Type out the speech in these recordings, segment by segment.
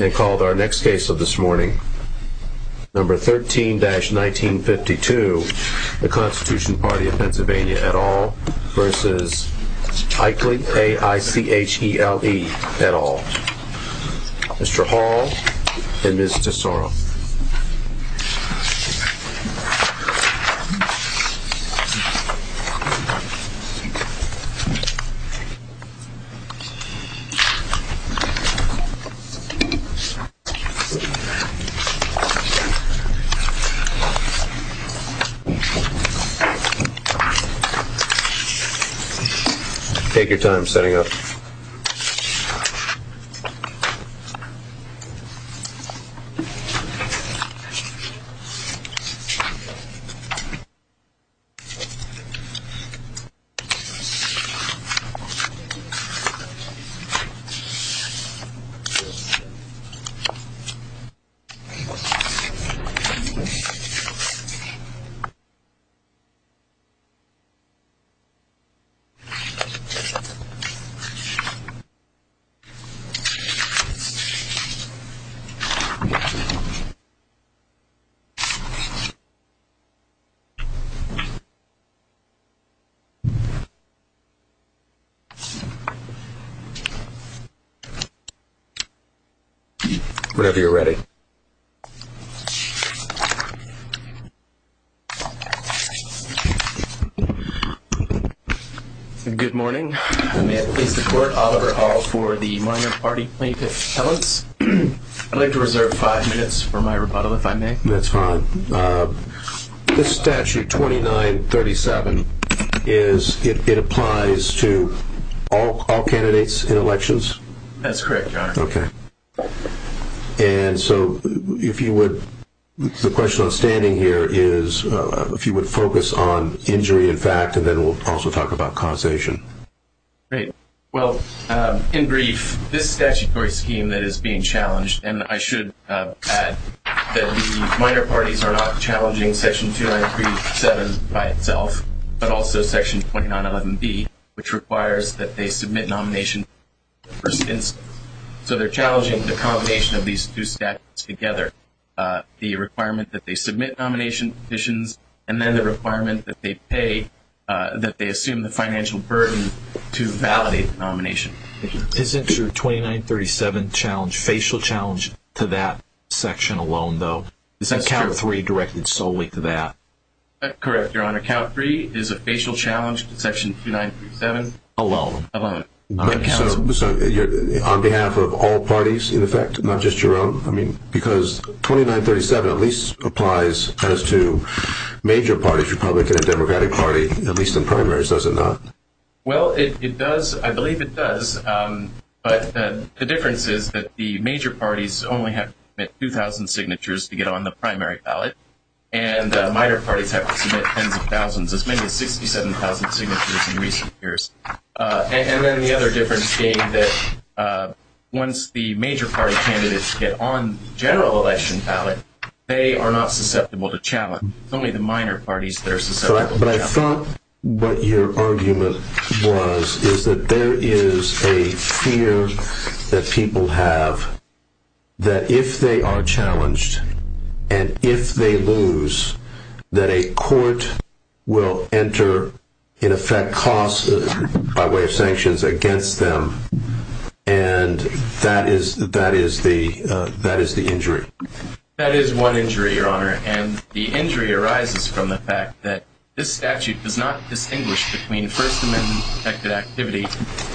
and called our next case of this morning number 13-1952 the Constitution Party of Pennsylvania et al. versus Aichere et al. Mr. Hall and Ms. Tesoro take your time setting up whenever you're ready. Good morning. I may have placed the court Oliver Hall for the minor party plaintiff talents. I'd like to reserve five minutes for my rebuttal if I may. That's fine. This statute 29-37 is it applies to all all candidates in elections? That's correct, okay and so if you would the question on standing here is if you would focus on injury in fact and then we'll also talk about causation. Great, well in brief this statutory scheme that is being challenged and I should add that the minor parties are not challenging section 29-37 by itself but also section 29-11b which requires that they submit nomination for instance. So they're challenging the combination of these two statutes together. The requirement that they submit nomination petitions and then the requirement that they pay that they assume the financial burden to validate the nomination. Isn't your 29-37 challenge facial challenge to that section alone though? Is that count three directed solely to that? That's correct your honor count three is a facial challenge to section 29-37 alone. So you're on behalf of all parties in effect not just your own I mean because 29-37 at least applies as to major parties republican and democratic party at least in primaries does it not? Well it does I believe it does but the difference is that the major parties only have 2,000 signatures to get on the primary ballot and the minor parties have to submit tens of thousands as many as 67,000 signatures in recent years and then the other difference being that once the major party candidates get on general election ballot they are not susceptible to challenge only the minor parties that are fear that people have that if they are challenged and if they lose that a court will enter in effect costs by way of sanctions against them and that is that is the that is the injury. That is one injury your honor and the injury arises from the fact that this statute does not distinguish between first amendment protected activity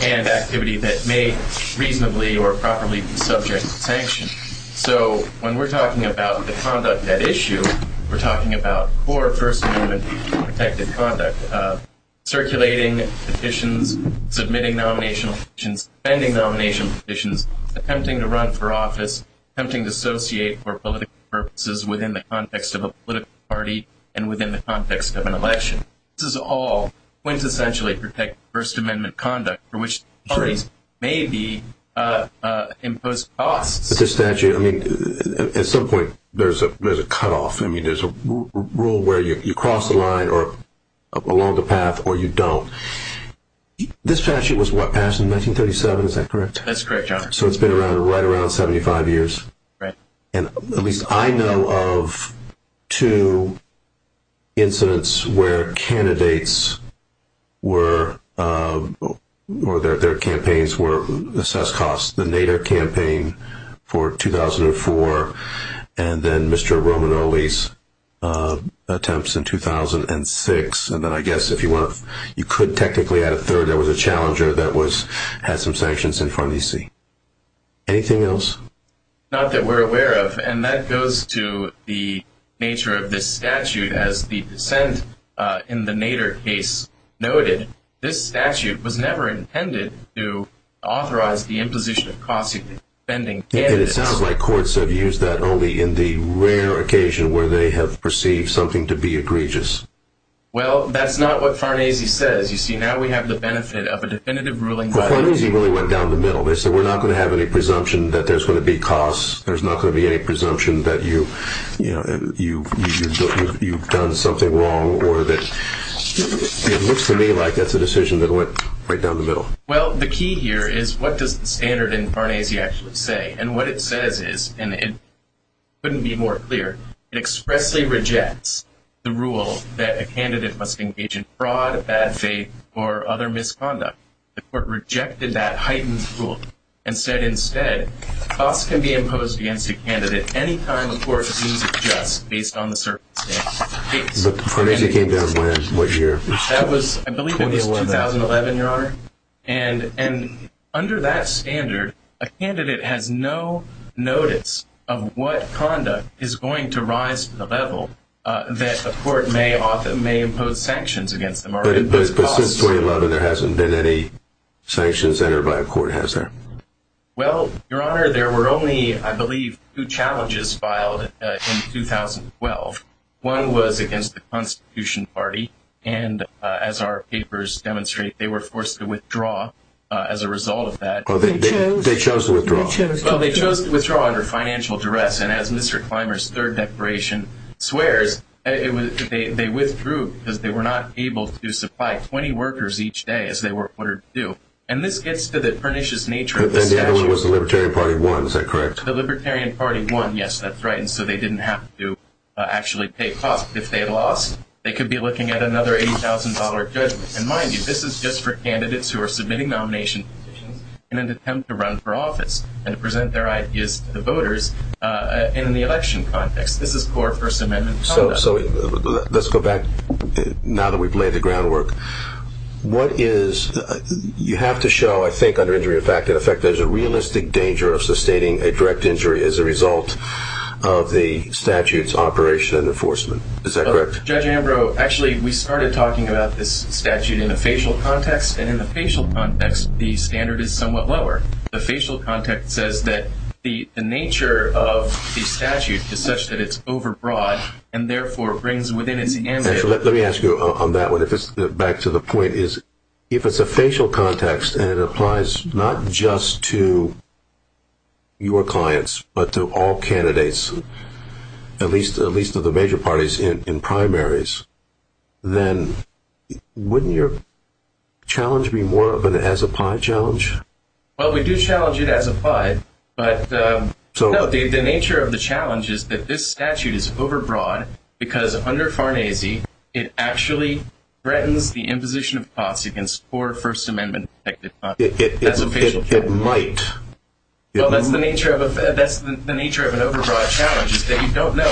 and activity that may reasonably or properly be subject to sanction. So when we're talking about the conduct at issue we're talking about for first amendment protected conduct circulating petitions, submitting nominational petitions, pending nomination petitions, attempting to run for office, attempting to associate for political purposes within the context of a political party and within the context of an election. This is all quintessentially protected first amendment conduct for which parties may be uh uh imposed costs. But this statute I mean at some point there's a there's a cutoff I mean there's a rule where you cross the line or along the path or you don't. This statute was what passed in 1937 is that correct? That's correct your honor. So it's been around right around 75 years? Right. And at least I know of two incidents where candidates were uh or their their campaigns were assessed costs. The Nader campaign for 2004 and then Mr. Romanoli's uh attempts in 2006 and then I guess if you want you could technically add a third there was a challenger that was had some sanctions in front of you see. Anything else? Not that we're aware of and that goes to the nature of this statute as the dissent uh in the Nader case noted this statute was never intended to authorize the imposition of costs of defending candidates. And it sounds like courts have used that only in the rare occasion where they have perceived something to be egregious. Well that's not what Farnese says you see now we have the benefit of a definitive ruling. Farnese really went down the middle they said we're not going to have any presumption that there's going to be costs there's not going to be any presumption that you you know you've you've done something wrong or that it looks to me like that's a decision that went right down the middle. Well the key here is what does the standard in Farnese actually say and what it says is and it couldn't be more clear it expressly rejects the rule that a candidate must engage in fraud, bad faith, or other misconduct. The court rejected that heightened rule and said instead costs can be imposed against a candidate any time the court sees it just based on the circumstances. But Farnese came down when? What year? That was I believe it was 2011 your honor and and under that standard a candidate has no notice of what conduct is going to rise to the But since 2011 there hasn't been any sanctions entered by a court has there? Well your honor there were only I believe two challenges filed in 2012. One was against the constitution party and as our papers demonstrate they were forced to withdraw as a result of that. They chose to withdraw? Well they chose to withdraw under financial duress and as Mr. Clymer's third declaration swears it was they withdrew because they were not able to supply 20 workers each day as they were ordered to do and this gets to the pernicious nature of the statute. It was the libertarian party won is that correct? The libertarian party won yes that's right and so they didn't have to actually pay cost if they lost they could be looking at another $80,000 judgment and mind you this is just for candidates who are submitting nomination in an attempt to run for office and present their ideas to the voters in the election context this is core first amendment. So let's go back now that we've laid the groundwork what is you have to show I think under injury of fact in effect there's a realistic danger of sustaining a direct injury as a result of the statute's operation and enforcement is that correct? Judge Ambrose actually we started talking about this statute in a facial context and the facial context the standard is somewhat lower the facial context says that the the nature of the statute is such that it's overbroad and therefore brings within its hands let me ask you on that one if it's back to the point is if it's a facial context and it applies not just to your clients but to all candidates at least at least of the major parties in primaries then wouldn't your challenge be more of an as a pie challenge? Well we do challenge it as a pie but so no the nature of the challenge is that this statute is overbroad because under Farnese it actually threatens the imposition of cost against core first amendment it might well that's the nature of that's the nature of an overbroad challenge is that you don't know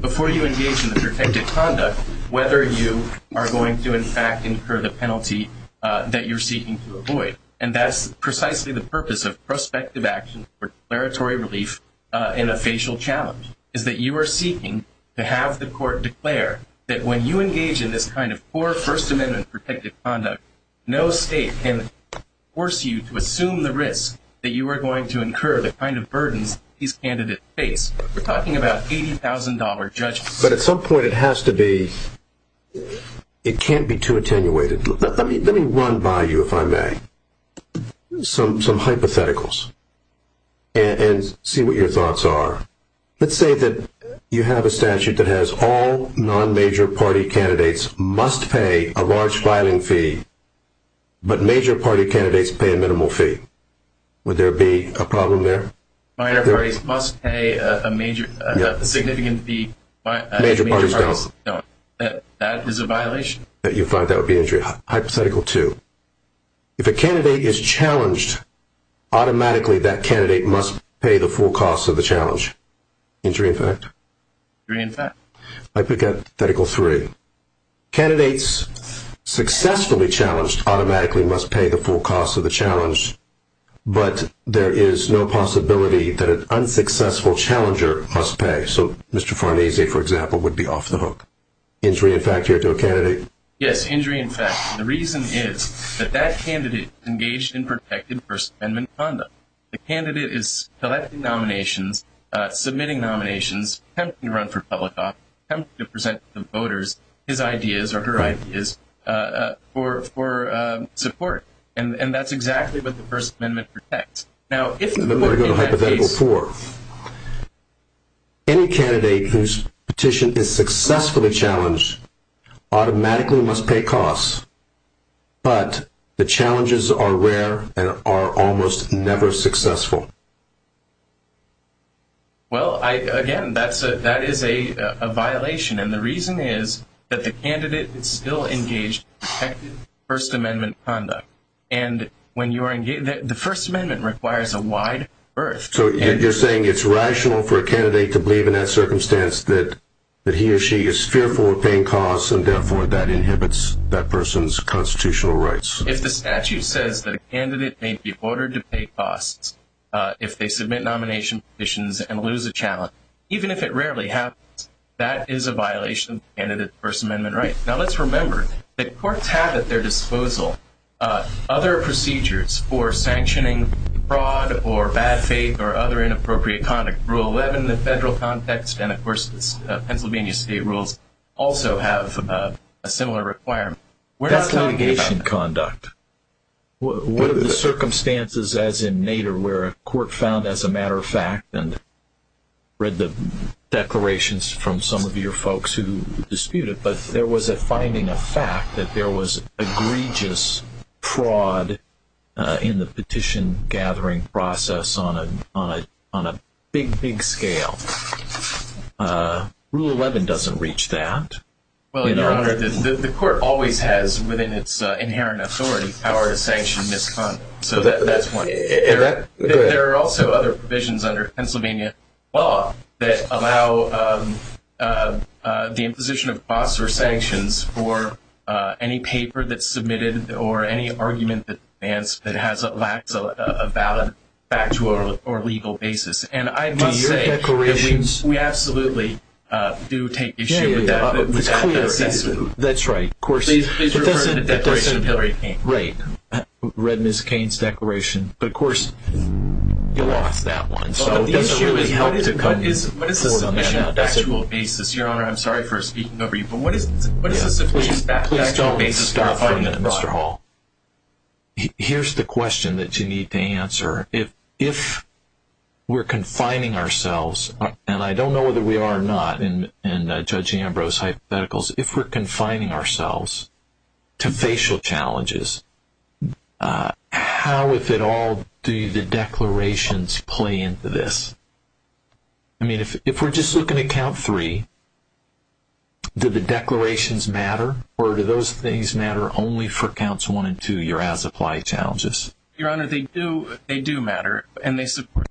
before you engage in the protected conduct whether you are going to in fact incur the penalty that you're seeking to avoid and that's precisely the purpose of prospective action for declaratory relief in a facial challenge is that you are seeking to have the court declare that when you engage in this kind of core first amendment protected conduct no state can force you to assume the risk that you are going to incur the kind of burdens these candidates face we're $80,000 judges but at some point it has to be it can't be too attenuated let me let me run by you if I may some some hypotheticals and see what your thoughts are let's say that you have a statute that has all non-major party candidates must pay a large filing fee but major party candidates pay minimal fee would there be a problem there minor parties must pay a major a significant fee that is a violation that you find that would be injury hypothetical two if a candidate is challenged automatically that candidate must pay the full cost of the challenge injury in fact three in fact I pick up that equal three candidates successfully challenged automatically must pay the full cost of the challenge but there is no possibility that an unsuccessful challenger must pay so Mr. Farnese for example would be off the hook injury in fact here to a candidate yes injury in fact the reason is that that candidate engaged in protected first amendment conduct the candidate is collecting nominations uh submitting nominations run for public office to present the voters his ideas or her ideas uh for for uh support and and that's exactly what the first amendment protects now if you go to hypothetical four any candidate whose petition is successfully challenged automatically must pay costs but the challenges are rare and are almost never successful well I again that's a that is a a violation and the reason is that the candidate is still engaged protected first amendment conduct and when you are engaged that the first amendment requires a wide birth so you're saying it's rational for a candidate to believe in that circumstance that that he or she is fearful of paying costs and therefore that inhibits that person's constitutional rights if the statute says that a candidate may be ordered to pay costs uh that's a violation if they submit nomination petitions and lose a challenge even if it rarely happens that is a violation candidate first amendment right now let's remember that courts have at their disposal other procedures for sanctioning fraud or bad faith or other inappropriate conduct rule 11 the federal context and of course this pennsylvania state rules also have a similar requirement we're not litigation conduct what are the circumstances as in nader where a court found as a matter of fact and read the declarations from some of your folks who disputed but there was a finding of fact that there was egregious fraud uh in the petition gathering process on a on a big big scale uh rule 11 doesn't reach that well your honor the court always has within its inherent authority power to sanction misconduct so that that's why there are also other provisions under pennsylvania law that allow um uh the imposition of costs or sanctions for uh any legal basis and i must say we absolutely uh do take issue with that that's right of course right read miss kane's declaration but of course you lost that one so the issue is what is it what is the submission of actual basis your honor i'm sorry for speaking over you but what is what is the situation please don't be stopped mr hall here's the question that you need to answer if if we're confining ourselves and i don't know whether we are not in in judge ambrose hypotheticals if we're confining ourselves to facial challenges uh how if at all do the declarations play into this i mean if if we're just looking at count three do the declarations matter or do those things matter only for counts one and two you're as apply challenges your honor they do matter and they support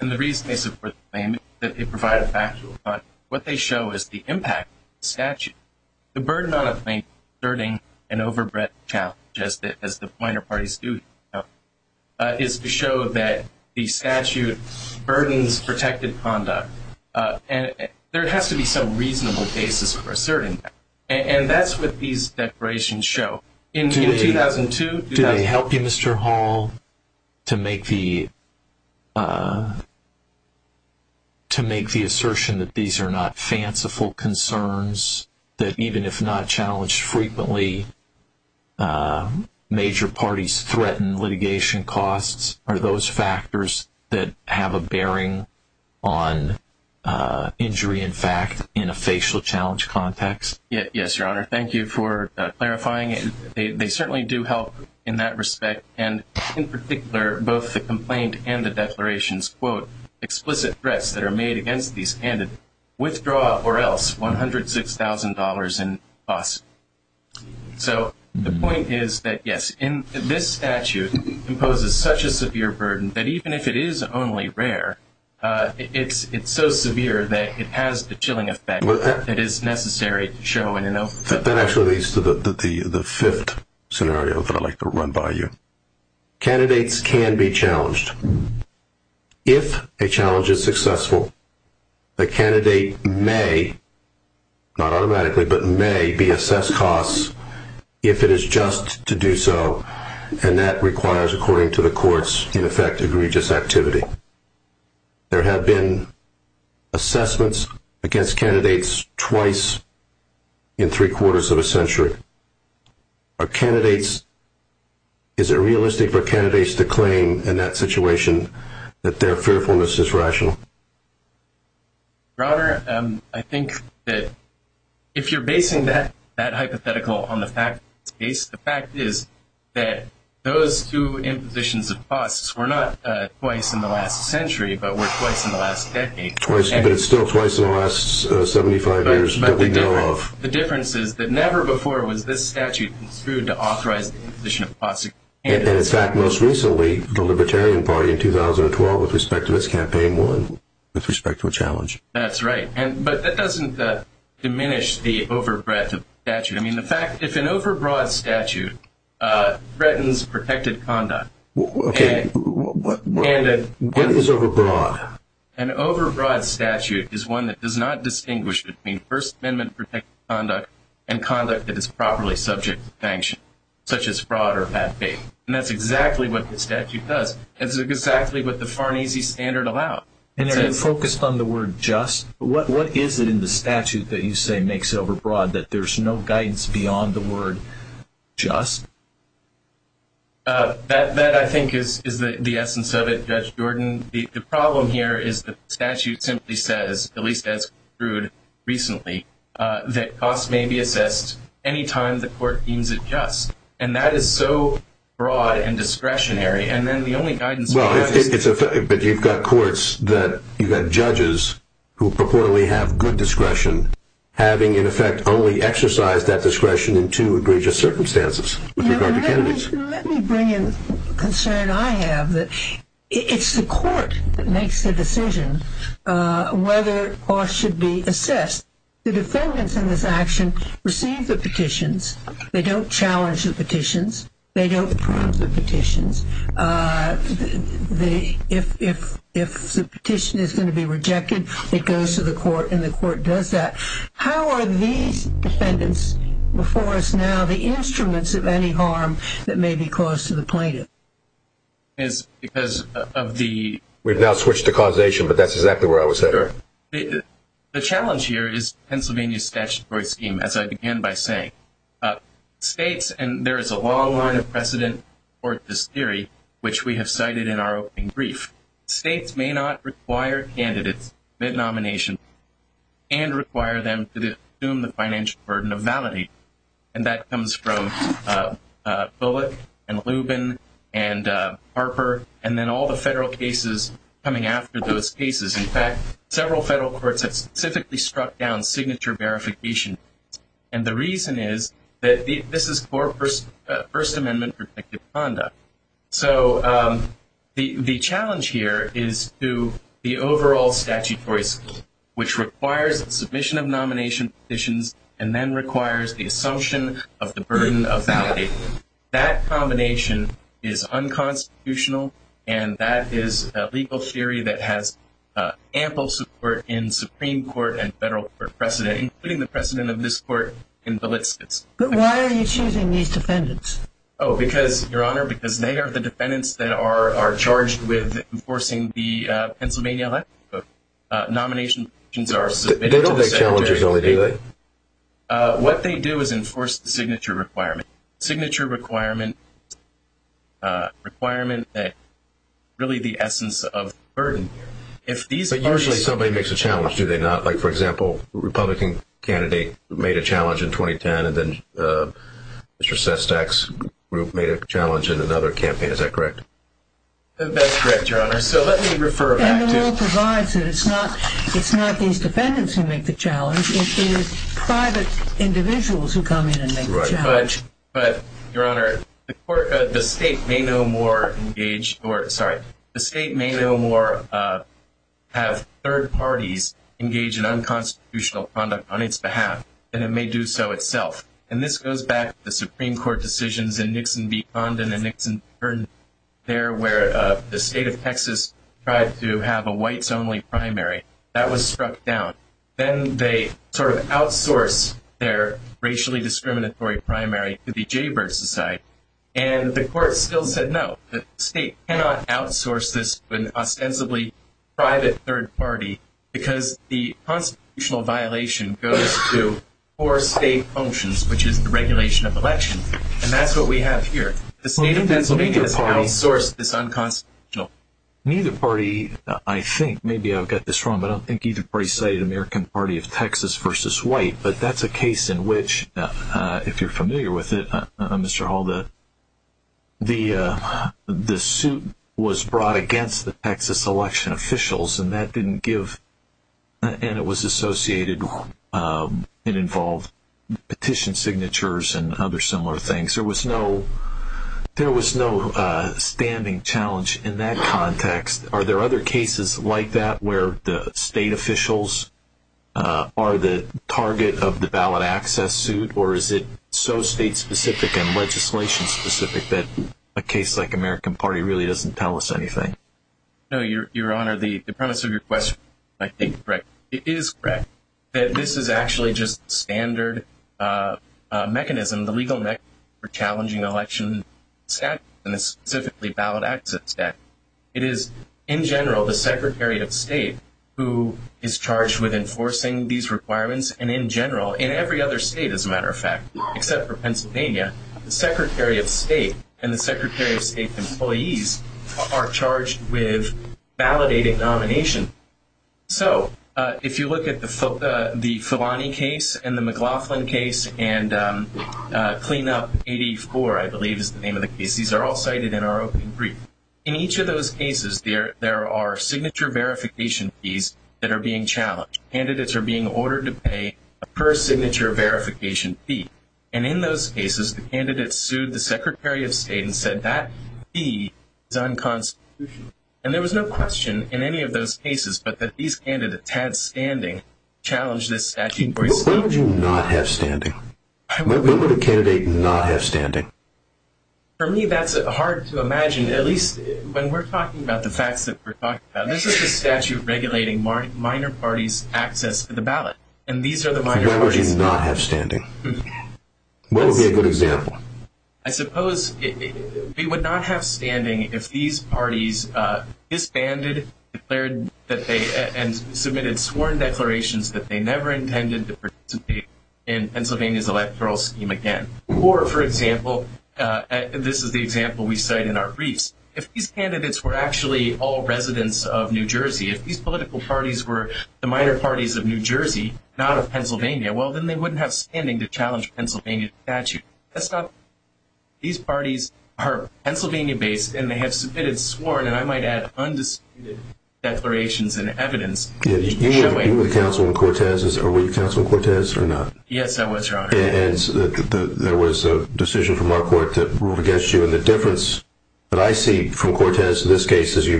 and the reason they support the claim is that they provide a factual but what they show is the impact of the statute the burden on a claim asserting an overbred challenge just as the pointer parties do is to show that the statute burdens protected conduct uh and there has to be some reasonable basis for asserting that and that's what these declarations show in 2002 did they help you mr hall to make the uh to make the assertion that these are not fanciful concerns that even if not challenged frequently uh major parties threaten litigation costs are those factors that have a bearing on uh injury in fact in a facial challenge context yes your honor thank you for clarifying it they certainly do help in that respect and in particular both the complaint and the declarations quote explicit threats that are made against these candidates withdraw or else one hundred six thousand dollars in costs so the point is that yes in this statute imposes such a severe burden that even if it is only rare uh it's it's so severe that it has the chilling effect that is necessary to show in an open that actually leads to the the the fifth scenario that i like to run by you candidates can be challenged if a challenge is successful the candidate may not automatically but may be assessed costs if it is just to do so and that requires according to the courts in effect egregious activity there have been assessments against candidates twice in three quarters of a century our candidates is it realistic for candidates to claim in that situation that their fearfulness is rational rather um i think that if you're basing that hypothetical on the fact the fact is that those two impositions of costs were not twice in the last century but were twice in the last decade twice but it's still twice in the last 75 years but the difference is that never before was this statute construed to authorize the imposition of plastic and in fact most recently the libertarian party in 2012 with respect to this campaign won with respect to a challenge that's right and but that doesn't diminish the breadth of statute i mean the fact if an overbroad statute uh threatens protected conduct okay what is overbroad an overbroad statute is one that does not distinguish between first amendment protected conduct and conduct that is properly subject to sanction such as fraud or bad faith and that's exactly what the statute does it's exactly what the farnese standard allowed and then focused on the word just what what is it in the statute that you say makes it overbroad that there's no guidance beyond the word just uh that that i think is is that the essence of it judge jordan the problem here is the statute simply says at least as crude recently uh that costs may be assessed anytime the court deems it just and that is so broad and discretionary and then the only guidance but you've got courts that you've got judges who purportedly have good discretion having in effect only exercise that discretion in two egregious circumstances with regard to candidates let me bring in concern i have that it's the court that makes the decision uh whether or should be assessed the defendants in this action receive the petitions they don't challenge the petitions they don't prove the petitions uh the if if if the petition is going to be rejected it goes to the court and the court does that how are these defendants before us now the instruments of any harm that may be close to the plaintiff is because of the we've now switched to causation but that's exactly where i was there the challenge here is pennsylvania's statutory scheme as i began by saying uh states and there is a long line of precedent for this theory which we have cited in our opening brief states may not require candidates mid-nomination and require them to assume the financial burden of validating and that comes from uh bullet and lubin and uh harper and then all the federal cases coming after those cases in fact several federal courts have specifically struck down signature verification and the reason is that this is for first first amendment protective conduct so um the the challenge here is to the overall statutory scheme which requires the submission of nomination petitions and then requires the assumption of the burden of validating that combination is unconstitutional and that is a legal theory that has uh ample support in federal precedent including the precedent of this court in the lists but why are you choosing these defendants oh because your honor because they are the defendants that are are charged with enforcing the uh pennsylvania nomination petitions are submitted challenges only do that uh what they do is enforce the signature requirement signature requirement uh requirement that really the essence of burden if these are usually somebody makes a challenge do they not like for example republican candidate made a challenge in 2010 and then uh mr sestak's group made a challenge in another campaign is that correct that's correct your honor so let me refer back to provides that it's not it's not these defendants who make the challenge it is private individuals who come in and make the challenge but your honor the court the state may no more engage or sorry the state may no more uh have third parties engage in unconstitutional conduct on its behalf and it may do so itself and this goes back to the supreme court decisions in nixon v condon and nixon there where uh the state of texas tried to have a whites only primary that was struck down then they sort of outsource their racially discriminatory primary to the jaybird and the court still said no the state cannot outsource this to an ostensibly private third party because the constitutional violation goes to four state functions which is the regulation of election and that's what we have here the state of pennsylvania has outsourced this unconstitutional neither party i think maybe i've got this wrong but i don't think either party cited american party of texas versus white but that's a case in which uh uh if you're familiar with it mr hall the the uh the suit was brought against the texas election officials and that didn't give and it was associated um it involved petition signatures and other similar things there was no there was no uh standing challenge in that context are there other cases like that where the and legislation specific that a case like american party really doesn't tell us anything no your your honor the premise of your question i think correct it is correct that this is actually just standard uh mechanism the legal neck for challenging election stat and this specifically ballot access that it is in general the secretary of state who is charged with enforcing these secretary of state and the secretary of state employees are charged with validating nomination so uh if you look at the philani case and the mclaughlin case and um uh cleanup 84 i believe is the name of the case these are all cited in our open brief in each of those cases there there are signature verification fees that are being challenged candidates are being ordered to pay per signature verification fee and in those cases the candidate sued the secretary of state and said that fee is unconstitutional and there was no question in any of those cases but that these candidates had standing challenge this statute why would you not have standing why would a candidate not have standing for me that's hard to imagine at least when we're talking about the facts that we're talking about this is the statute regulating minor parties access to the ballot and these are the minor parties not have standing what would be a good example i suppose they would not have standing if these parties uh disbanded declared that they and submitted sworn declarations that they never intended to participate in pennsylvania's electoral scheme again or for example uh this is the example we cite in our briefs if these candidates were actually all residents of new jersey if these political parties were the minor parties of new jersey not of pennsylvania well then they wouldn't have standing to challenge pennsylvania statute that's not these parties are pennsylvania based and they have submitted sworn and i might add undisputed declarations and evidence you were the councilman cortez's or were you councilman cortez or not yes i was and there was a decision from our court that ruled against you and the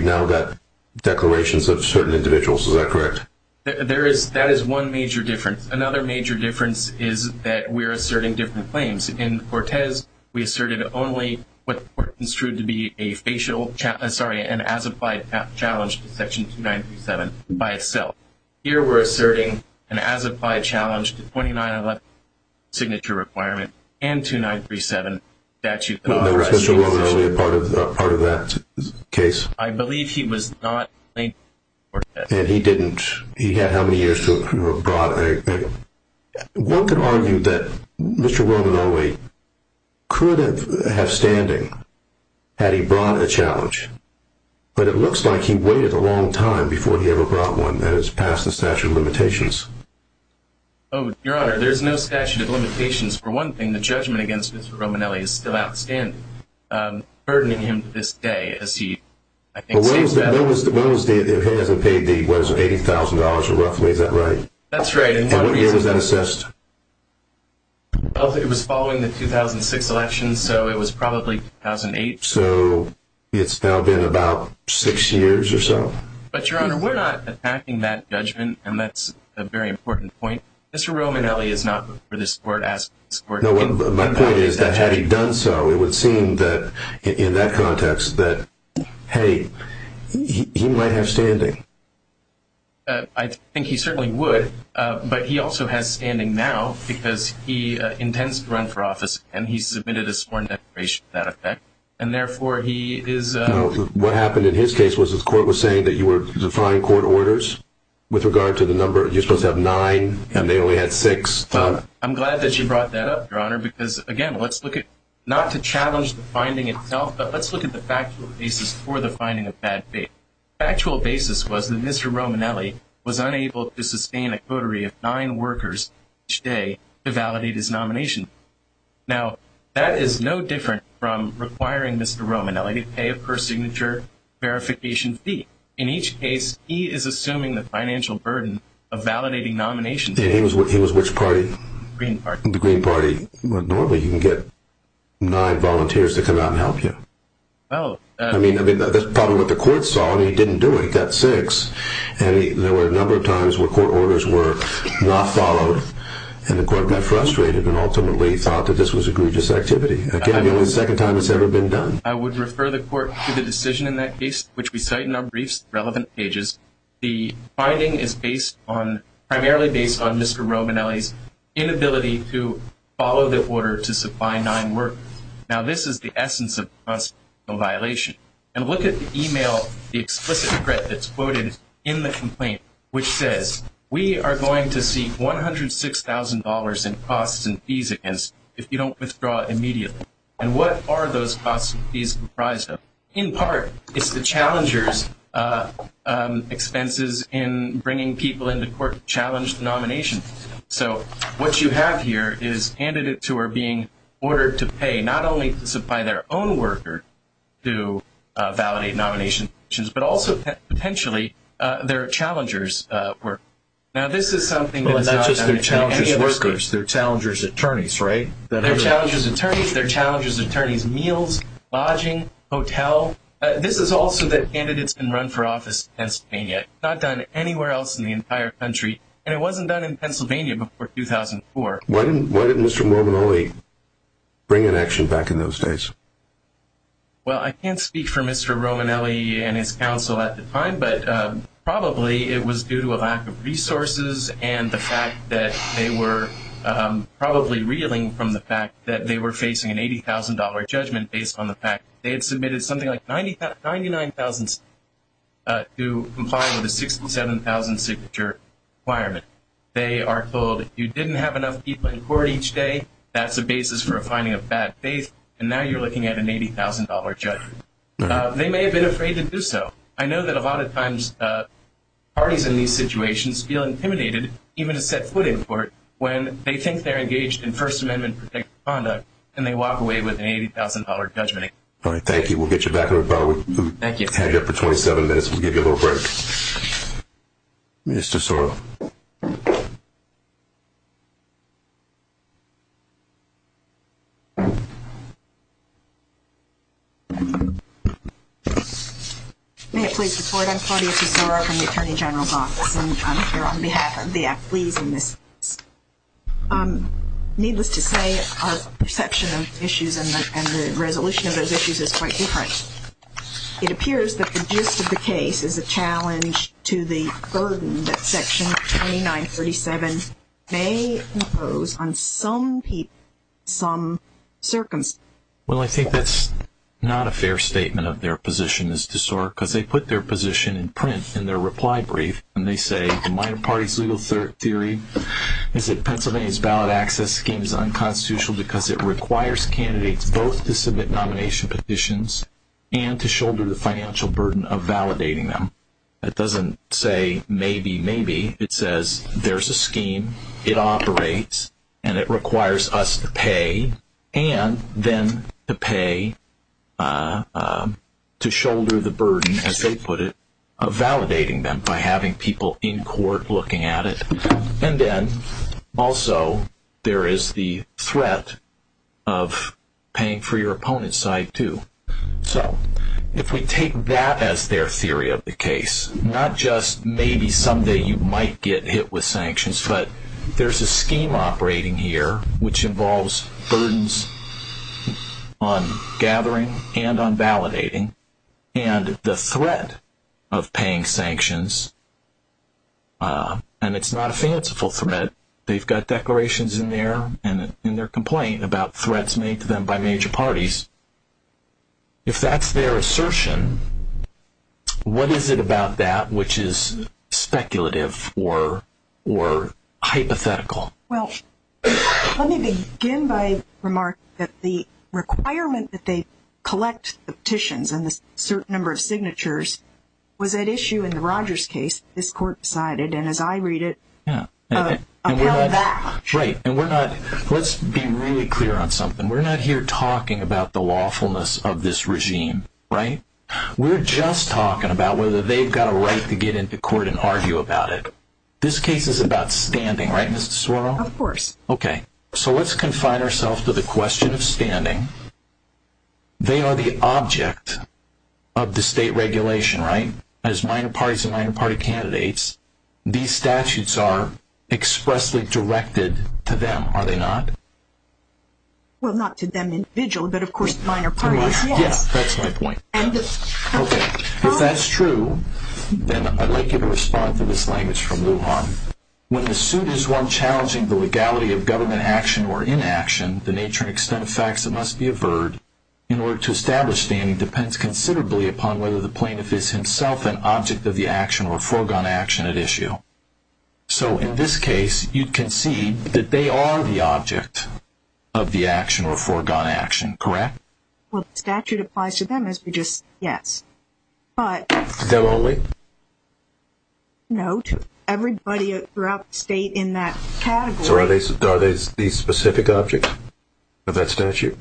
now that declarations of certain individuals is that correct there is that is one major difference another major difference is that we're asserting different claims in cortez we asserted only what is true to be a facial sorry and as applied challenge to section 2937 by itself here we're asserting an as applied challenge to 29 signature requirement and 2937 statute part of part of that case i believe he was not and he didn't he had how many years to brought a one could argue that mr roman only could have standing had he brought a challenge but it looks like he waited a long time before he ever brought one that has passed the statute of limitations oh your honor there's no statute of limitations for one thing the judgment against roman ellie is still outstanding um burdening him to this day as he i think well what was the what was the if he hasn't paid the what is it eighty thousand dollars or roughly is that right that's right and what year was that assessed well it was following the 2006 election so it was probably 2008 so it's now been about six years or so but your honor we're not attacking that judgment and that's a very important point mr roman ellie is not for this court asked my point is that had he done so it would seem that in that context that hey he might have standing uh i think he certainly would uh but he also has standing now because he uh intends to run for office and he submitted a sworn declaration to that effect and therefore he is uh what happened in his case was the court was saying that you were defying court orders with regard to the number you're supposed to have nine and they only had six i'm glad that you brought that up your honor because again let's look at not to challenge the finding itself but let's look at the factual basis for the finding of bad faith actual basis was that mr roman ellie was unable to sustain a coterie of nine workers each day to validate his nomination now that is no different from requiring mr roman ellie to pay a per signature verification fee in each case he is assuming the financial burden of validating nominations he was what he was which party green party the green party normally you can get nine volunteers to come out and help you well i mean i mean that's probably what the court saw and he didn't do it he got six and there were a number of times where court orders were not followed and the court got frustrated and ultimately thought that this was a grievous activity again the only second time it's ever been done i would refer the court to the decision in that case which we cite in our inability to follow the order to supply nine workers now this is the essence of us no violation and look at the email the explicit threat that's quoted in the complaint which says we are going to see one hundred six thousand dollars in costs and fees against if you don't withdraw immediately and what are those costs and fees comprised of in part it's the challengers uh um expenses in bringing people into court challenged nomination so what you have here is candidates who are being ordered to pay not only to supply their own worker to validate nomination issues but also potentially uh their challengers uh work now this is something that's not just their challenges workers their challengers attorneys right their challenges attorneys their candidates can run for office in pennsylvania not done anywhere else in the entire country and it wasn't done in pennsylvania before 2004 why didn't why didn't mr romanoli bring an action back in those days well i can't speak for mr romanelli and his counsel at the time but um probably it was due to a lack of resources and the fact that they were um probably reeling from the fact that they were facing an eighty thousand dollar judgment based on the fact they had submitted something like 90 99 000 uh to comply with the 67 000 signature requirement they are told you didn't have enough people in court each day that's a basis for a finding of bad faith and now you're looking at an eighty thousand dollar judgment uh they may have been afraid to do so i know that a lot of times uh parties in these situations feel intimidated even to set foot in court when they think they're engaged in first amendment protected conduct and they walk away with an eighty thousand dollar judgment all right thank you we'll get you back in the car we thank you hang up for 27 minutes we'll give you a little break mr sorrel may it please the court i'm claudia tesoro from the attorney general's office and i'm here on issues and the resolution of those issues is quite different it appears that the gist of the case is a challenge to the burden that section 29 37 may impose on some people some circumstance well i think that's not a fair statement of their position is to sort because they put their position in print in their reply brief and they say the minor party's legal theory is that pennsylvania's ballot access scheme is unconstitutional because it requires candidates both to submit nomination petitions and to shoulder the financial burden of validating them it doesn't say maybe maybe it says there's a scheme it operates and it requires us to pay and then to pay uh to shoulder the burden of validating them by having people in court looking at it and then also there is the threat of paying for your opponent's side too so if we take that as their theory of the case not just maybe someday you might get hit with sanctions but there's a scheme operating here which involves burdens on gathering and on validating and the threat of paying sanctions uh and it's not a fanciful threat they've got declarations in there and in their complaint about threats made to them by major parties if that's their assertion what is it about that which is speculative or or hypothetical well let me begin by remarking that the requirement that they collect the petitions and the certain number of signatures was at issue in the rogers case this court decided and as i read it yeah right and we're not let's be really clear on something we're not here talking about the lawfulness of this regime right we're just talking about whether they've got a right to get into court and argue about it this case is about standing right mr sorrow of course okay so let's confine ourselves to the question of standing they are the object of the state regulation right as minor parties and minor party candidates these statutes are expressly directed to them are they not well not to them individually but of course minor parties yes that's my point okay if that's true then i'd like you to respond to this language from luhan when the suit is one challenging the legality of government action or inaction the nature and extent of facts that must be averred in order to establish standing depends considerably upon whether the plaintiff is himself an object of the action or foregone action at issue so in this case you'd concede that they are the object of the action or foregone action correct well the statute applies to them as we just yes but them only no to everybody throughout the state in that category so are they are they these specific objects of that statute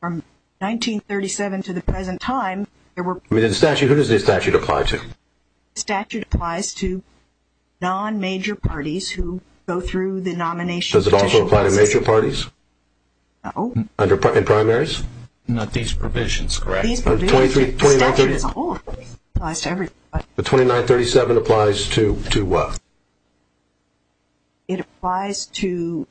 from 1937 to the present time there were within the statute who does this statute apply to statute applies to non-major parties who go through the nomination does it also apply to parties under primaries not these provisions correct the 2937 applies to to what it applies to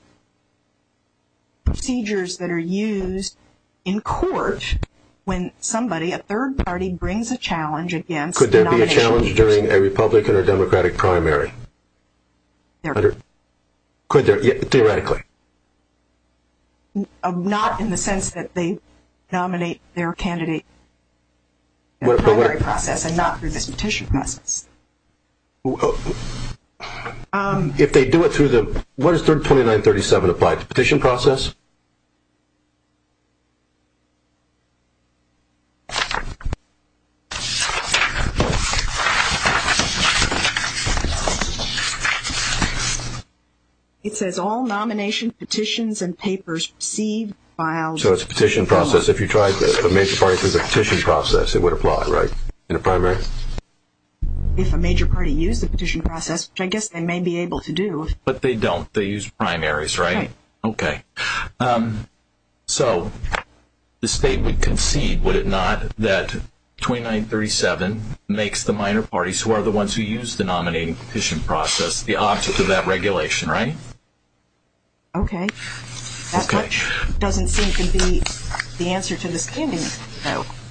procedures that are used in court when somebody a third party brings a challenge against could there be a challenge during a republican or democratic primary there could there theoretically not in the sense that they nominate their candidate process and not through this petition process if they do it through the what is their 2937 applied to petition process it says all nomination petitions and papers received by so it's a petition process if you tried the major parties as a petition process it would apply right in a primary if a major party used the petition process which i guess they may be able to do but they don't they use primaries right okay um so the state would concede would it not that 2937 makes the minor parties who are process the object of that regulation right okay that doesn't seem to be the answer to the standing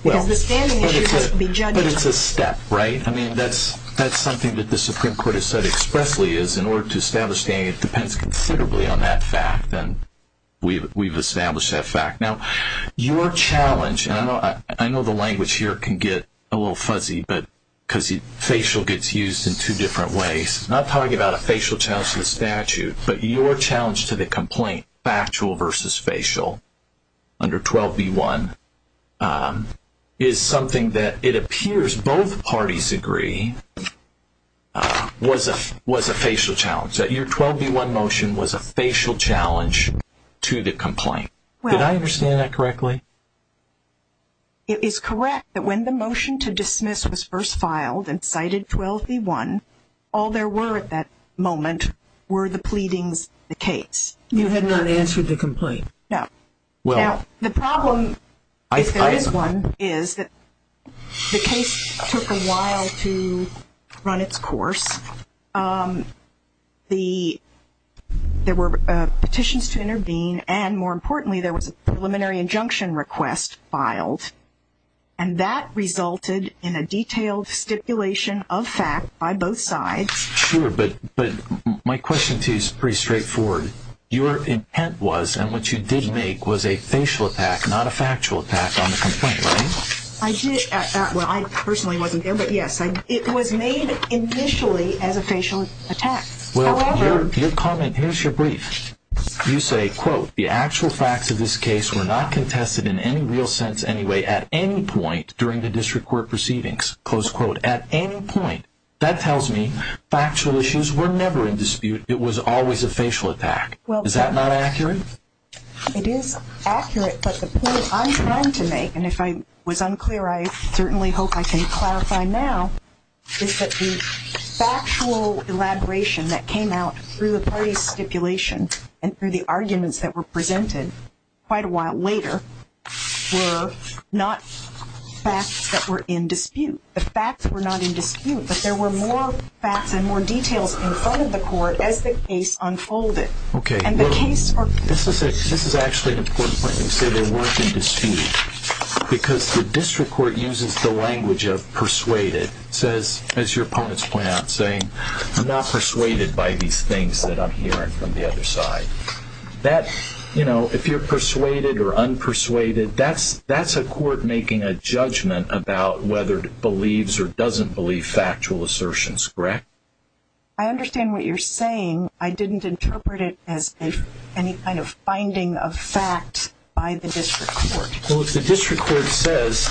but it's a step right i mean that's that's something that the supreme court has said expressly is in order to establish standing it depends considerably on that fact and we've we've established that fact now your challenge and i know the language here can get a little fuzzy but because he facial gets used in two different ways not talking about a facial challenge to the statute but your challenge to the complaint factual versus facial under 12b1 is something that it appears both parties agree was a was a facial challenge that your 12b1 motion was a facial challenge to the complaint well did i understand that correctly it is correct that when the motion to dismiss was first filed and cited 12b1 all there were at that moment were the pleadings the case you had not answered the complaint no well now the problem if there is one is that the case took a while to run its course um the there were petitions to intervene and more importantly there was a preliminary injunction request filed and that resulted in a detailed stipulation of fact by both sides sure but but my question too is pretty straightforward your intent was and what you did make was a facial attack not a factual attack on the complaint right i did well i as a facial attack your comment here's your brief you say quote the actual facts of this case were not contested in any real sense anyway at any point during the district court proceedings close quote at any point that tells me factual issues were never in dispute it was always a facial attack well is that not accurate it is accurate but the point i'm trying to make and i was unclear i certainly hope i can clarify now is that the factual elaboration that came out through the party stipulation and through the arguments that were presented quite a while later were not facts that were in dispute the facts were not in dispute but there were more facts and more details in front of the court as the case unfolded okay and the case this is a this they weren't in dispute because the district court uses the language of persuaded says as your opponents point out saying i'm not persuaded by these things that i'm hearing from the other side that you know if you're persuaded or unpersuaded that's that's a court making a judgment about whether it believes or doesn't believe factual assertions correct i understand what you're saying i didn't interpret it as any kind of finding of fact by the district court well if the district court says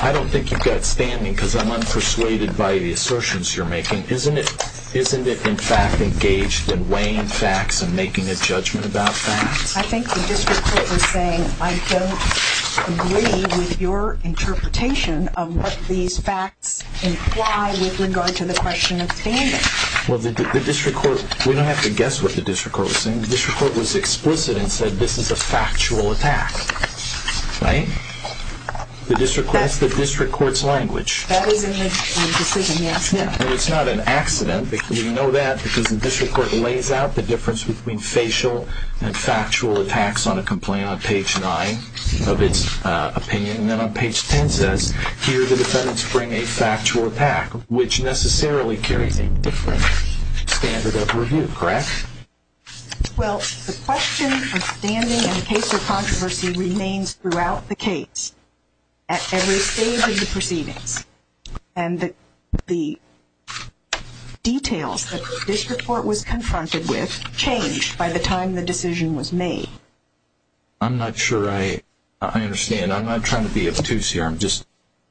i don't think you've got standing because i'm unpersuaded by the assertions you're making isn't it isn't it in fact engaged in weighing facts and making a judgment about facts i think the district court was saying i don't agree with your interpretation of what these facts imply with regard to the question of standing well the district court we don't have to guess what the district court was saying the district court was explicit and said this is a factual attack right the district that's the district court's language that is in the decision yes and it's not an accident because we know that because the district court lays out the difference between facial and factual attacks on a complaint on page nine of its uh opinion and then on page 10 says here the defendants bring a factual attack which necessarily carries a different standard of review correct well the question of standing and case of controversy remains throughout the case at every stage of the proceedings and the details that this report was confronted with changed by the time the decision was made i'm not sure i i understand i'm not trying to be obtuse here i'm just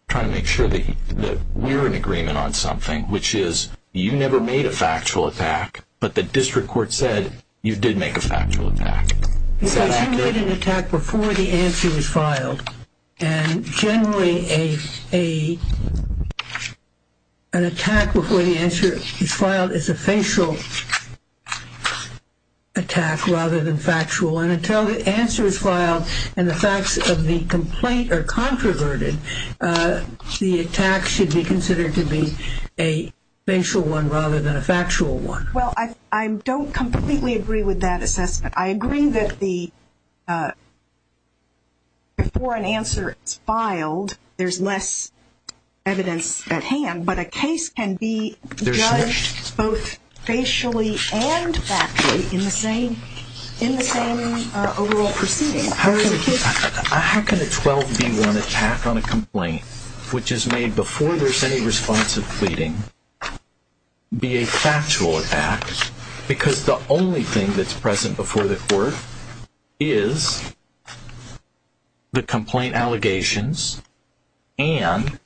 trying to make sure that that we're in agreement on something which is you never made a factual attack but the district court said you did make a factual attack because you made an attack before the answer was filed and generally a a an attack before the answer is filed is a facial attack rather than factual and until the answer is filed and the facts of the complaint are controverted uh the attack should be considered to be a facial one rather than a factual one well i i don't completely agree with that assessment i agree that the uh before an answer is filed there's less evidence at hand but a case can be judged both facially and factually in the same in the same uh overall proceeding how can a 12 v 1 attack on a complaint which is made before there's any response of pleading be a factual attack because the only thing that's present before the court is the complaint allegations and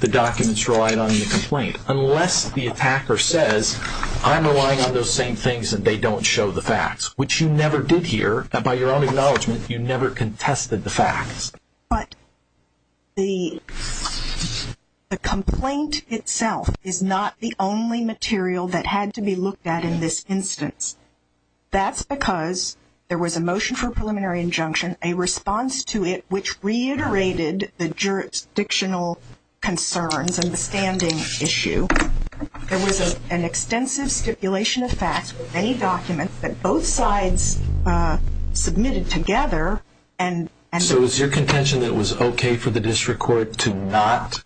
the documents relied on the complaint unless the attacker says i'm relying on those same things and they don't show the facts which you never did here by your own acknowledgement you never contested the facts but the the complaint itself is not the only material that had to be looked at in this instance that's because there was a motion for preliminary injunction a response to it which reiterated the jurisdictional concerns and the standing issue there was a an extensive stipulation of facts many documents that both sides uh submitted together and so is your contention that was okay for the district court to not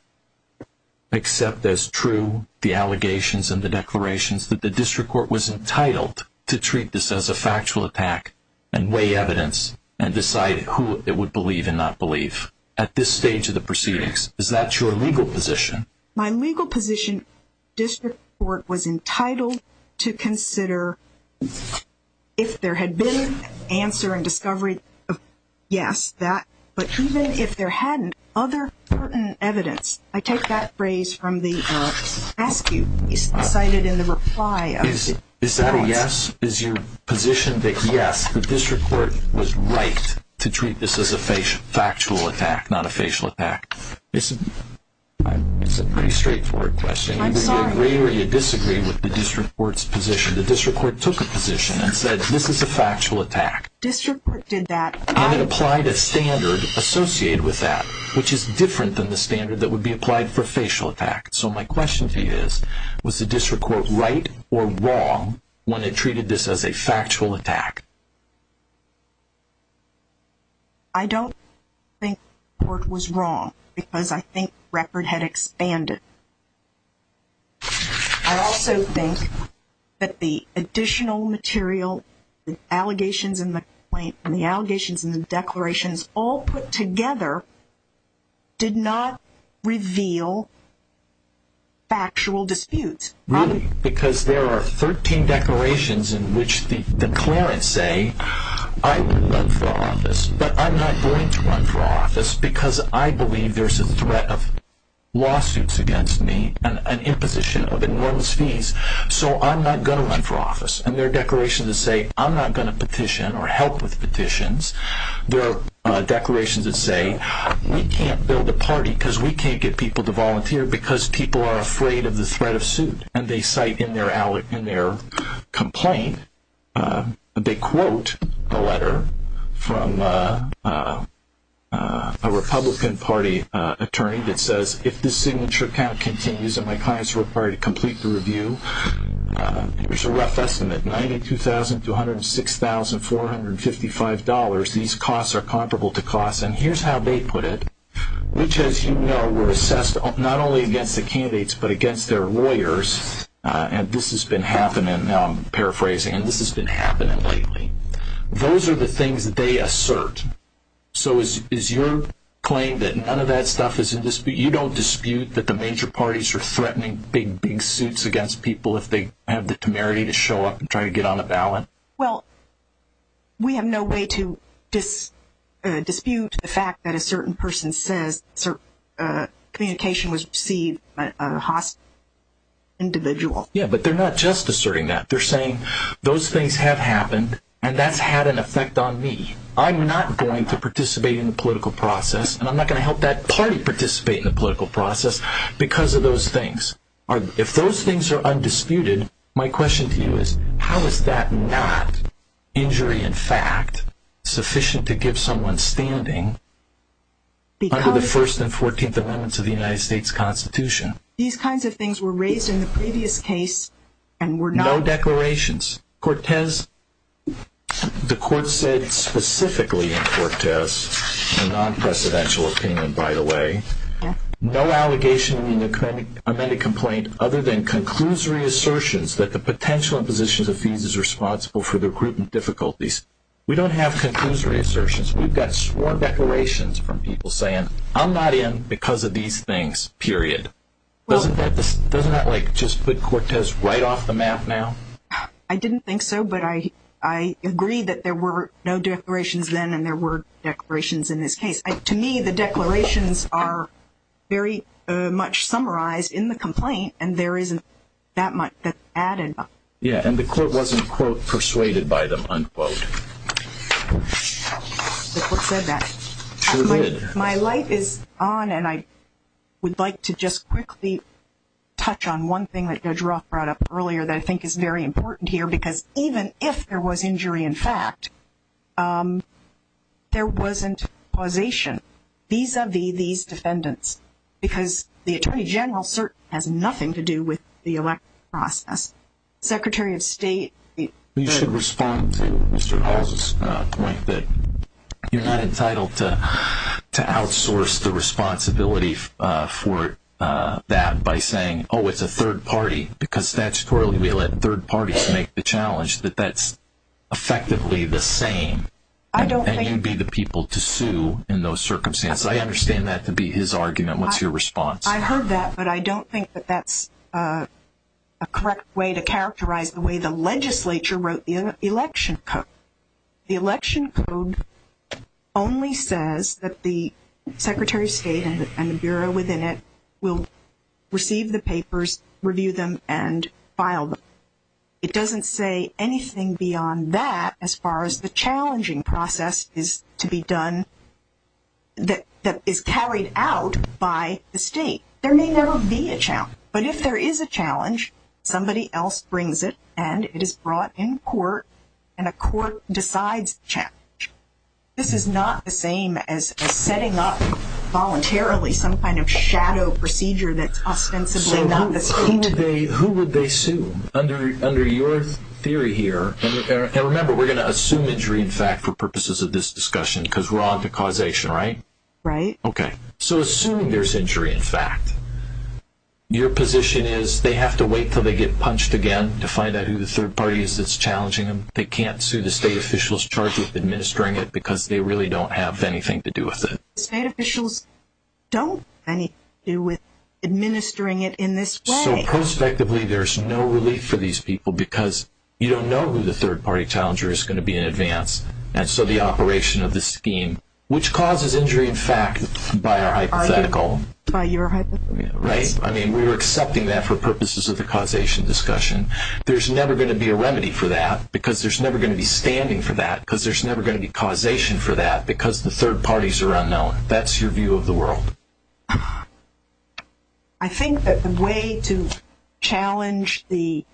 accept as true the allegations and the declarations that the district court was entitled to treat this as a factual attack and weigh evidence and decide who it would believe and not believe at this stage of the proceedings is that your legal position my legal position district court was entitled to consider if there had been answer and discovery yes that but even if there hadn't other certain evidence i take that phrase from the uh ask you is cited in the reply is is that a yes is your position that yes the district court was right to treat this as a facial factual attack not a facial attack it's a it's a pretty straightforward question do you agree or you disagree with the court's position the district court took a position and said this is a factual attack district court did that and it applied a standard associated with that which is different than the standard that would be applied for facial attack so my question to you is was the district court right or wrong when it treated this as a factual attack i don't think court was wrong because i think record had expanded i also think that the additional material the allegations in the complaint and the allegations and the declarations all put together did not reveal factual disputes really because there are 13 declarations in which the declarants say i will run for office but i'm not going to run for office because i believe there's a threat of lawsuits against me and an imposition of enormous fees so i'm not going to run for office and their declaration to say i'm not going to petition or help with petitions there are uh declarations that say we can't build a party because we can't get people to volunteer because people are afraid of the threat of suit and they cite in their in their complaint uh they quote a letter from uh uh a republican party uh attorney that says if this signature count continues and my clients are required to complete the review there's a rough estimate ninety two thousand two hundred and six thousand four hundred fifty five dollars these costs are comparable to costs and here's how they put it which as you know were candidates but against their lawyers uh and this has been happening now i'm paraphrasing and this has been happening lately those are the things that they assert so is is your claim that none of that stuff is in dispute you don't dispute that the major parties are threatening big big suits against people if they have the temerity to show up and try to get on the ballot well we have no way to dis dispute the fact that a certain person says uh communication was received by a hospital individual yeah but they're not just asserting that they're saying those things have happened and that's had an effect on me i'm not going to participate in the political process and i'm not going to help that party participate in the political process because of those things are if those things are undisputed my question to you is how is that not injury in fact sufficient to give someone standing under the first and 14th amendments of the united states constitution these kinds of things were raised in the previous case and we're no declarations cortez the court said specifically in cortez a non-presidential opinion by the way no allegation in the clinic amended complaint other than conclusory assertions that the potential positions of fees is responsible for the recruitment difficulties we don't have conclusory assertions we've got sworn declarations from people saying i'm not in because of these things period doesn't that this doesn't that like just put cortez right off the map now i didn't think so but i i agree that there were no declarations then and there were declarations in this case to me the declarations are very much summarized in the complaint and there isn't that much that added up yeah and the court wasn't quote persuaded by them unquote the court said that my life is on and i would like to just quickly touch on one thing that judge roth brought up earlier that i think is very important here because even if there was injury in fact um there wasn't causation vis-a-vis these defendants because the attorney general has nothing to do with the electoral process secretary of state you should respond to mr hall's point that you're not entitled to to outsource the responsibility uh for uh that by saying oh it's a third party because statutorily we let third parties make the challenge that that's effectively the same i don't think you'd be the people to sue in those circumstances i understand that to be his argument what's your response i heard that but i don't think that that's uh a correct way to characterize the way the legislature wrote the election code the election code only says that the secretary of state and the bureau within it will receive the papers review them and file them it doesn't say anything beyond that as far as the challenging process is to be done that that is carried out by the state there may never be a challenge but if there is a challenge somebody else brings it and it is brought in court and a court decides the challenge this is not the same as setting up voluntarily some kind of shadow procedure that's ostensibly not the same today who would they sue under under your theory here and remember we're going to assume injury in fact for purposes of this discussion because we're on to causation right right okay so assuming there's injury in fact your position is they have to wait till they get punched again to find out who the third party is that's challenging them they can't sue the state officials charged with administering it because they really don't have anything to do with it state officials don't have anything to do with administering it in this way so prospectively there's no relief for these people because you don't know who the third party challenger is going to be in advance and so the operation of the scheme which causes injury in fact by our hypothetical by your right i mean we were accepting that for purposes of the causation discussion there's never going to be a remedy for that because there's never going to be standing for that because there's never going to be causation for that because the third parties are unknown that's your view of the world i think that the way to challenge the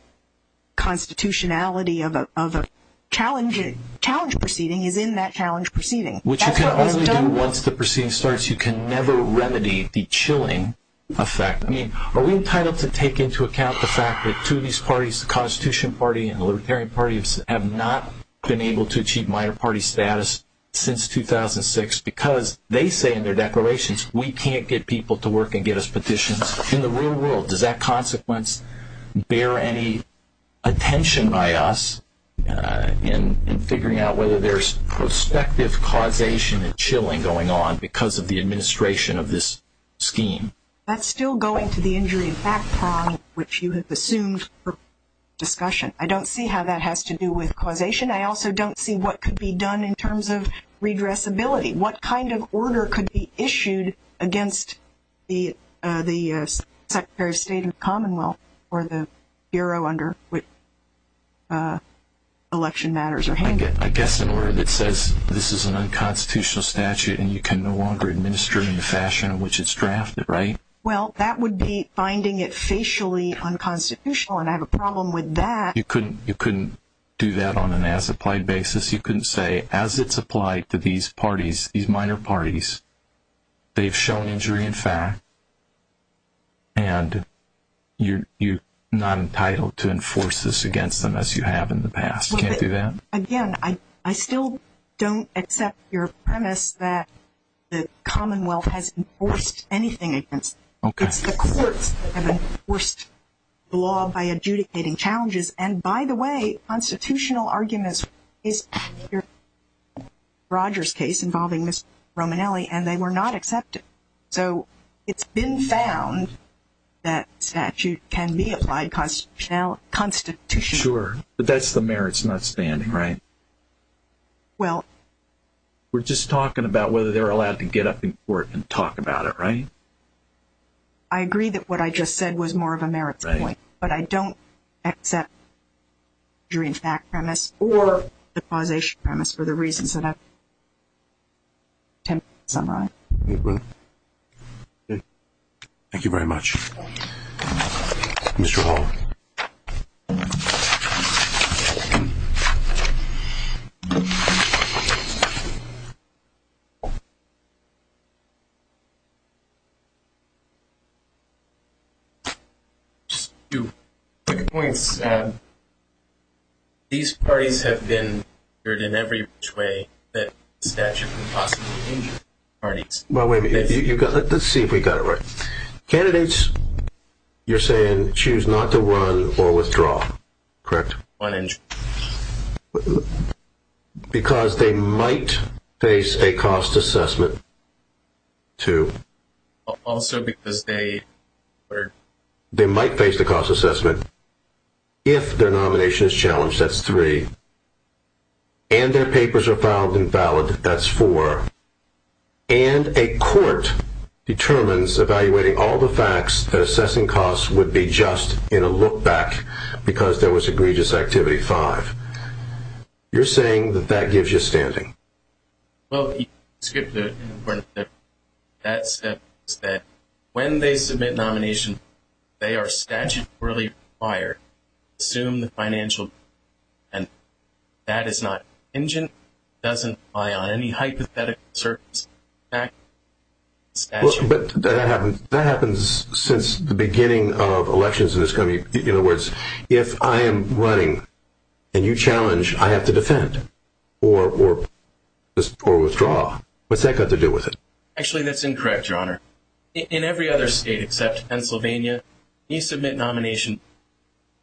constitutionality of a of a challenge challenge proceeding is in that challenge proceeding which you can only do once the proceeding starts you can never remedy the chilling effect i mean are we entitled to take into account the fact that two of these parties the constitution party and the libertarian parties have not been able to achieve minor party status since 2006 because they say in their declarations we can't get people to work and get us petitions in the real world does that consequence bear any attention by us in in figuring out whether there's prospective causation and chilling going on because of the administration of this scheme that's still going to the injury background which you have assumed for discussion i don't see how that has to do with causation i also don't see what could be done in terms of redressability what kind of order could be issued against the uh the uh secretary of state and commonwealth or the bureau under which uh election matters are handled i guess in order that says this is an unconstitutional statute and you can no longer administer it in the fashion in which it's drafted right well that would be finding it facially unconstitutional and i have a problem with that you couldn't you couldn't do that on an as applied basis you couldn't say as it's applied to these parties these minor parties they've shown injury in fact and you're you're not entitled to enforce this against them as you have in the past can't do that again i i still don't accept your premise that the commonwealth has enforced anything against it's the courts that have enforced the law by adjudicating challenges and by the way constitutional arguments is your rogers case involving miss romanelli and they were not accepted so it's been found that statute can be applied constitutional constitution sure but that's the merits not standing right well we're just talking about whether they're allowed to get up in court and talk about it right i agree that what i just said was more of a merit point but i don't accept jury in fact premise or the causation premise for the reasons that i've attempted to summarize thank you very much mr hall just two quick points these parties have been heard in every which way that statute parties well let's see if we got it right candidates you're saying choose not to run or withdraw correct one inch because they might face a cost assessment two also because they were they might face the cost assessment if their nomination is challenged that's three and their papers are filed and valid that's four and a court determines evaluating all the facts that assessing costs would be just in a look back because there was standing well you skipped the important that step is that when they submit nomination they are statutorily required assume the financial and that is not engine doesn't rely on any hypothetical surface back but that happens that happens since the beginning of elections in this country in other words if i am running and you challenge i have to defend or or or withdraw what's that got to do with it actually that's incorrect your honor in every other state except pennsylvania you submit nomination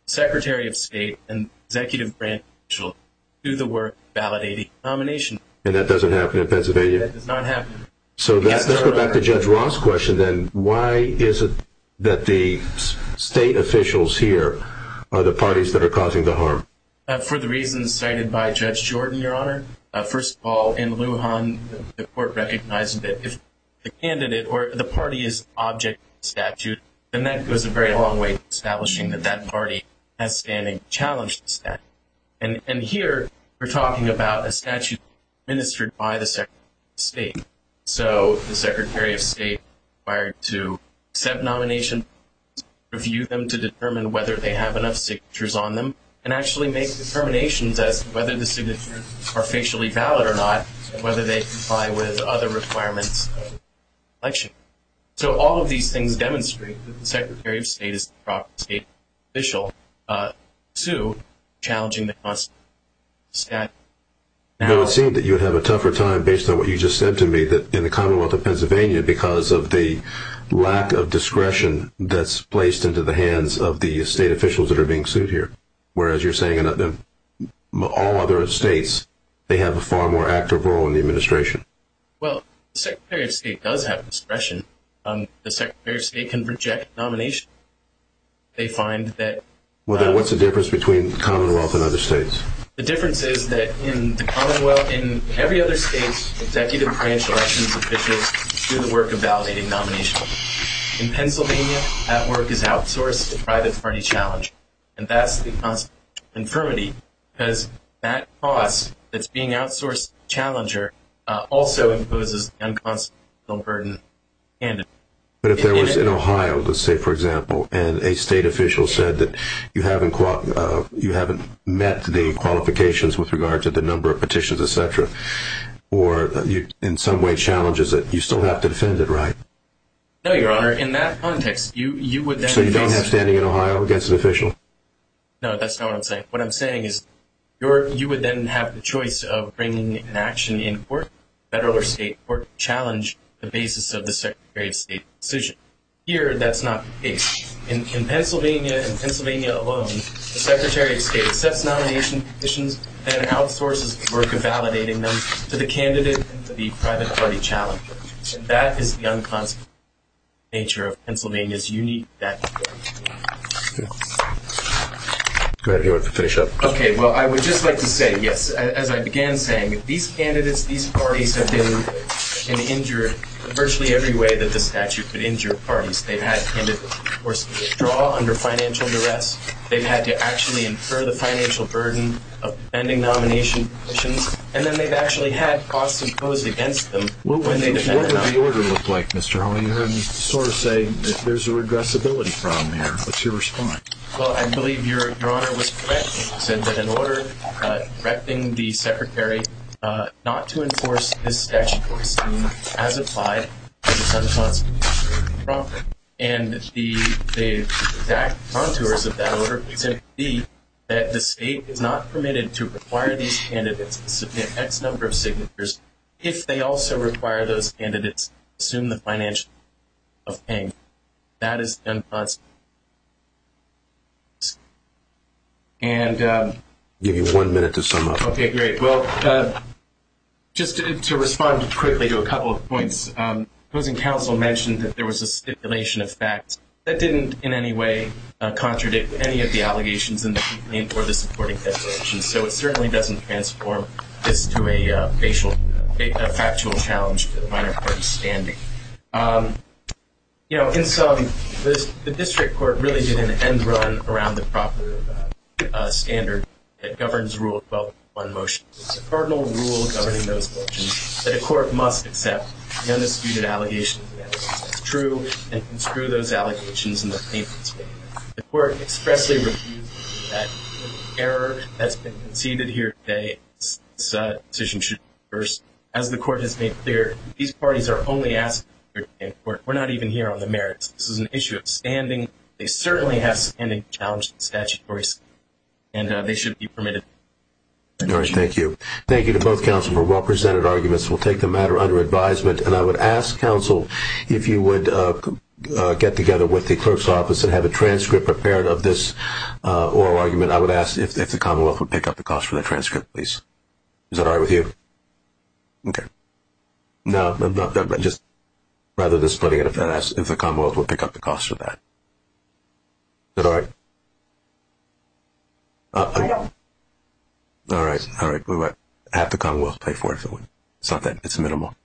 secretary of state and executive branch will do the work validating nomination and that doesn't happen in pennsylvania it does not happen so let's go back to judge ross question then why is it that the state officials here are the parties that are causing the harm for the reasons cited by judge jordan your honor first of all in lujan the court recognized that if the candidate or the party is object statute and that goes a very long way to establishing that that party has standing challenges that and and here we're talking about a statute administered by the second state so the secretary of state required to accept nomination review them to determine whether they have enough signatures on them and actually make determinations as whether the signatures are facially valid or not whether they comply with other requirements election so all of these things demonstrate that the secretary of state is the proper state official uh to challenging the cost stat now it seemed that you would have a tougher time based on what you just said to me that in the commonwealth of pennsylvania because of the lack of discretion that's placed into the hands of the state officials that are being sued here whereas you're saying another all other states they have a far more active role in the administration well the secretary of state does have discretion um the secretary of state can reject nomination they find that well then what's the difference between commonwealth and other states the difference is that in the commonwealth in every other state executive branch elections officials do the work of validating nomination in pennsylvania that work is outsourced to private party challenge and that's the infirmity because that cost that's being outsourced challenger uh also imposes unconstitutional burden and but if there was in ohio let's say for example and a state official said that you haven't caught you haven't met the qualifications with regard to the number of petitions etc or you in some way challenges that you still have to defend it right no your honor in that context you you would so you don't have standing in ohio against an official no that's not what i'm saying what i'm saying is your you would then have the choice of bringing an action in court federal or state court challenge the basis of the second grade state decision here that's not the case in pennsylvania and pennsylvania alone the secretary of state accepts nomination petitions and outsources the work of validating them to the candidate and to the private party challenge that is the unconstitutional nature of pennsylvania's unique that go ahead if you want to finish up okay well i would just like to say yes as i began saying these candidates these parties have been and injured virtually every way that the statute injured parties they've had to of course withdraw under financial duress they've had to actually infer the financial burden of pending nomination petitions and then they've actually had costs imposed against them what would the order look like mr how are you having to sort of say there's a regressibility problem here what's your response well i believe your your honor was said that in order uh directing the secretary uh not to enforce this statutory scheme as applied prop and the the exact contours of that order to see that the state is not permitted to require these candidates to submit x number of signatures if they also require those candidates assume the financial of paying that is unconstant and um give you one minute to sum up okay great well uh just to respond quickly to a couple of opposing counsel mentioned that there was a stipulation of facts that didn't in any way contradict any of the allegations in the complaint or the supporting petitions so it certainly doesn't transform this to a facial a factual challenge to the minor court standing um you know in some the district court really did an end run around the proper uh standard that governs one motion it's a cardinal rule governing those motions that a court must accept the undisputed allegations that's true and construe those allegations in the the court expressly refused that error that's been conceded here today as the court has made clear these parties are only asked we're not even here on the merits this is an issue of standing they certainly have standing challenge the statutory scheme and they should be permitted thank you thank you to both counsel for well-presented arguments we'll take the matter under advisement and i would ask counsel if you would uh get together with the clerk's office and have a transcript prepared of this uh oral argument i would ask if the commonwealth would pick up the cost for the transcript please is that all right with you okay no i'm not just rather than splitting it if that asks if the commonwealth would pick up the cost for that is that all right all right all right we'll have to come we'll pay for it if it wouldn't something it's minimal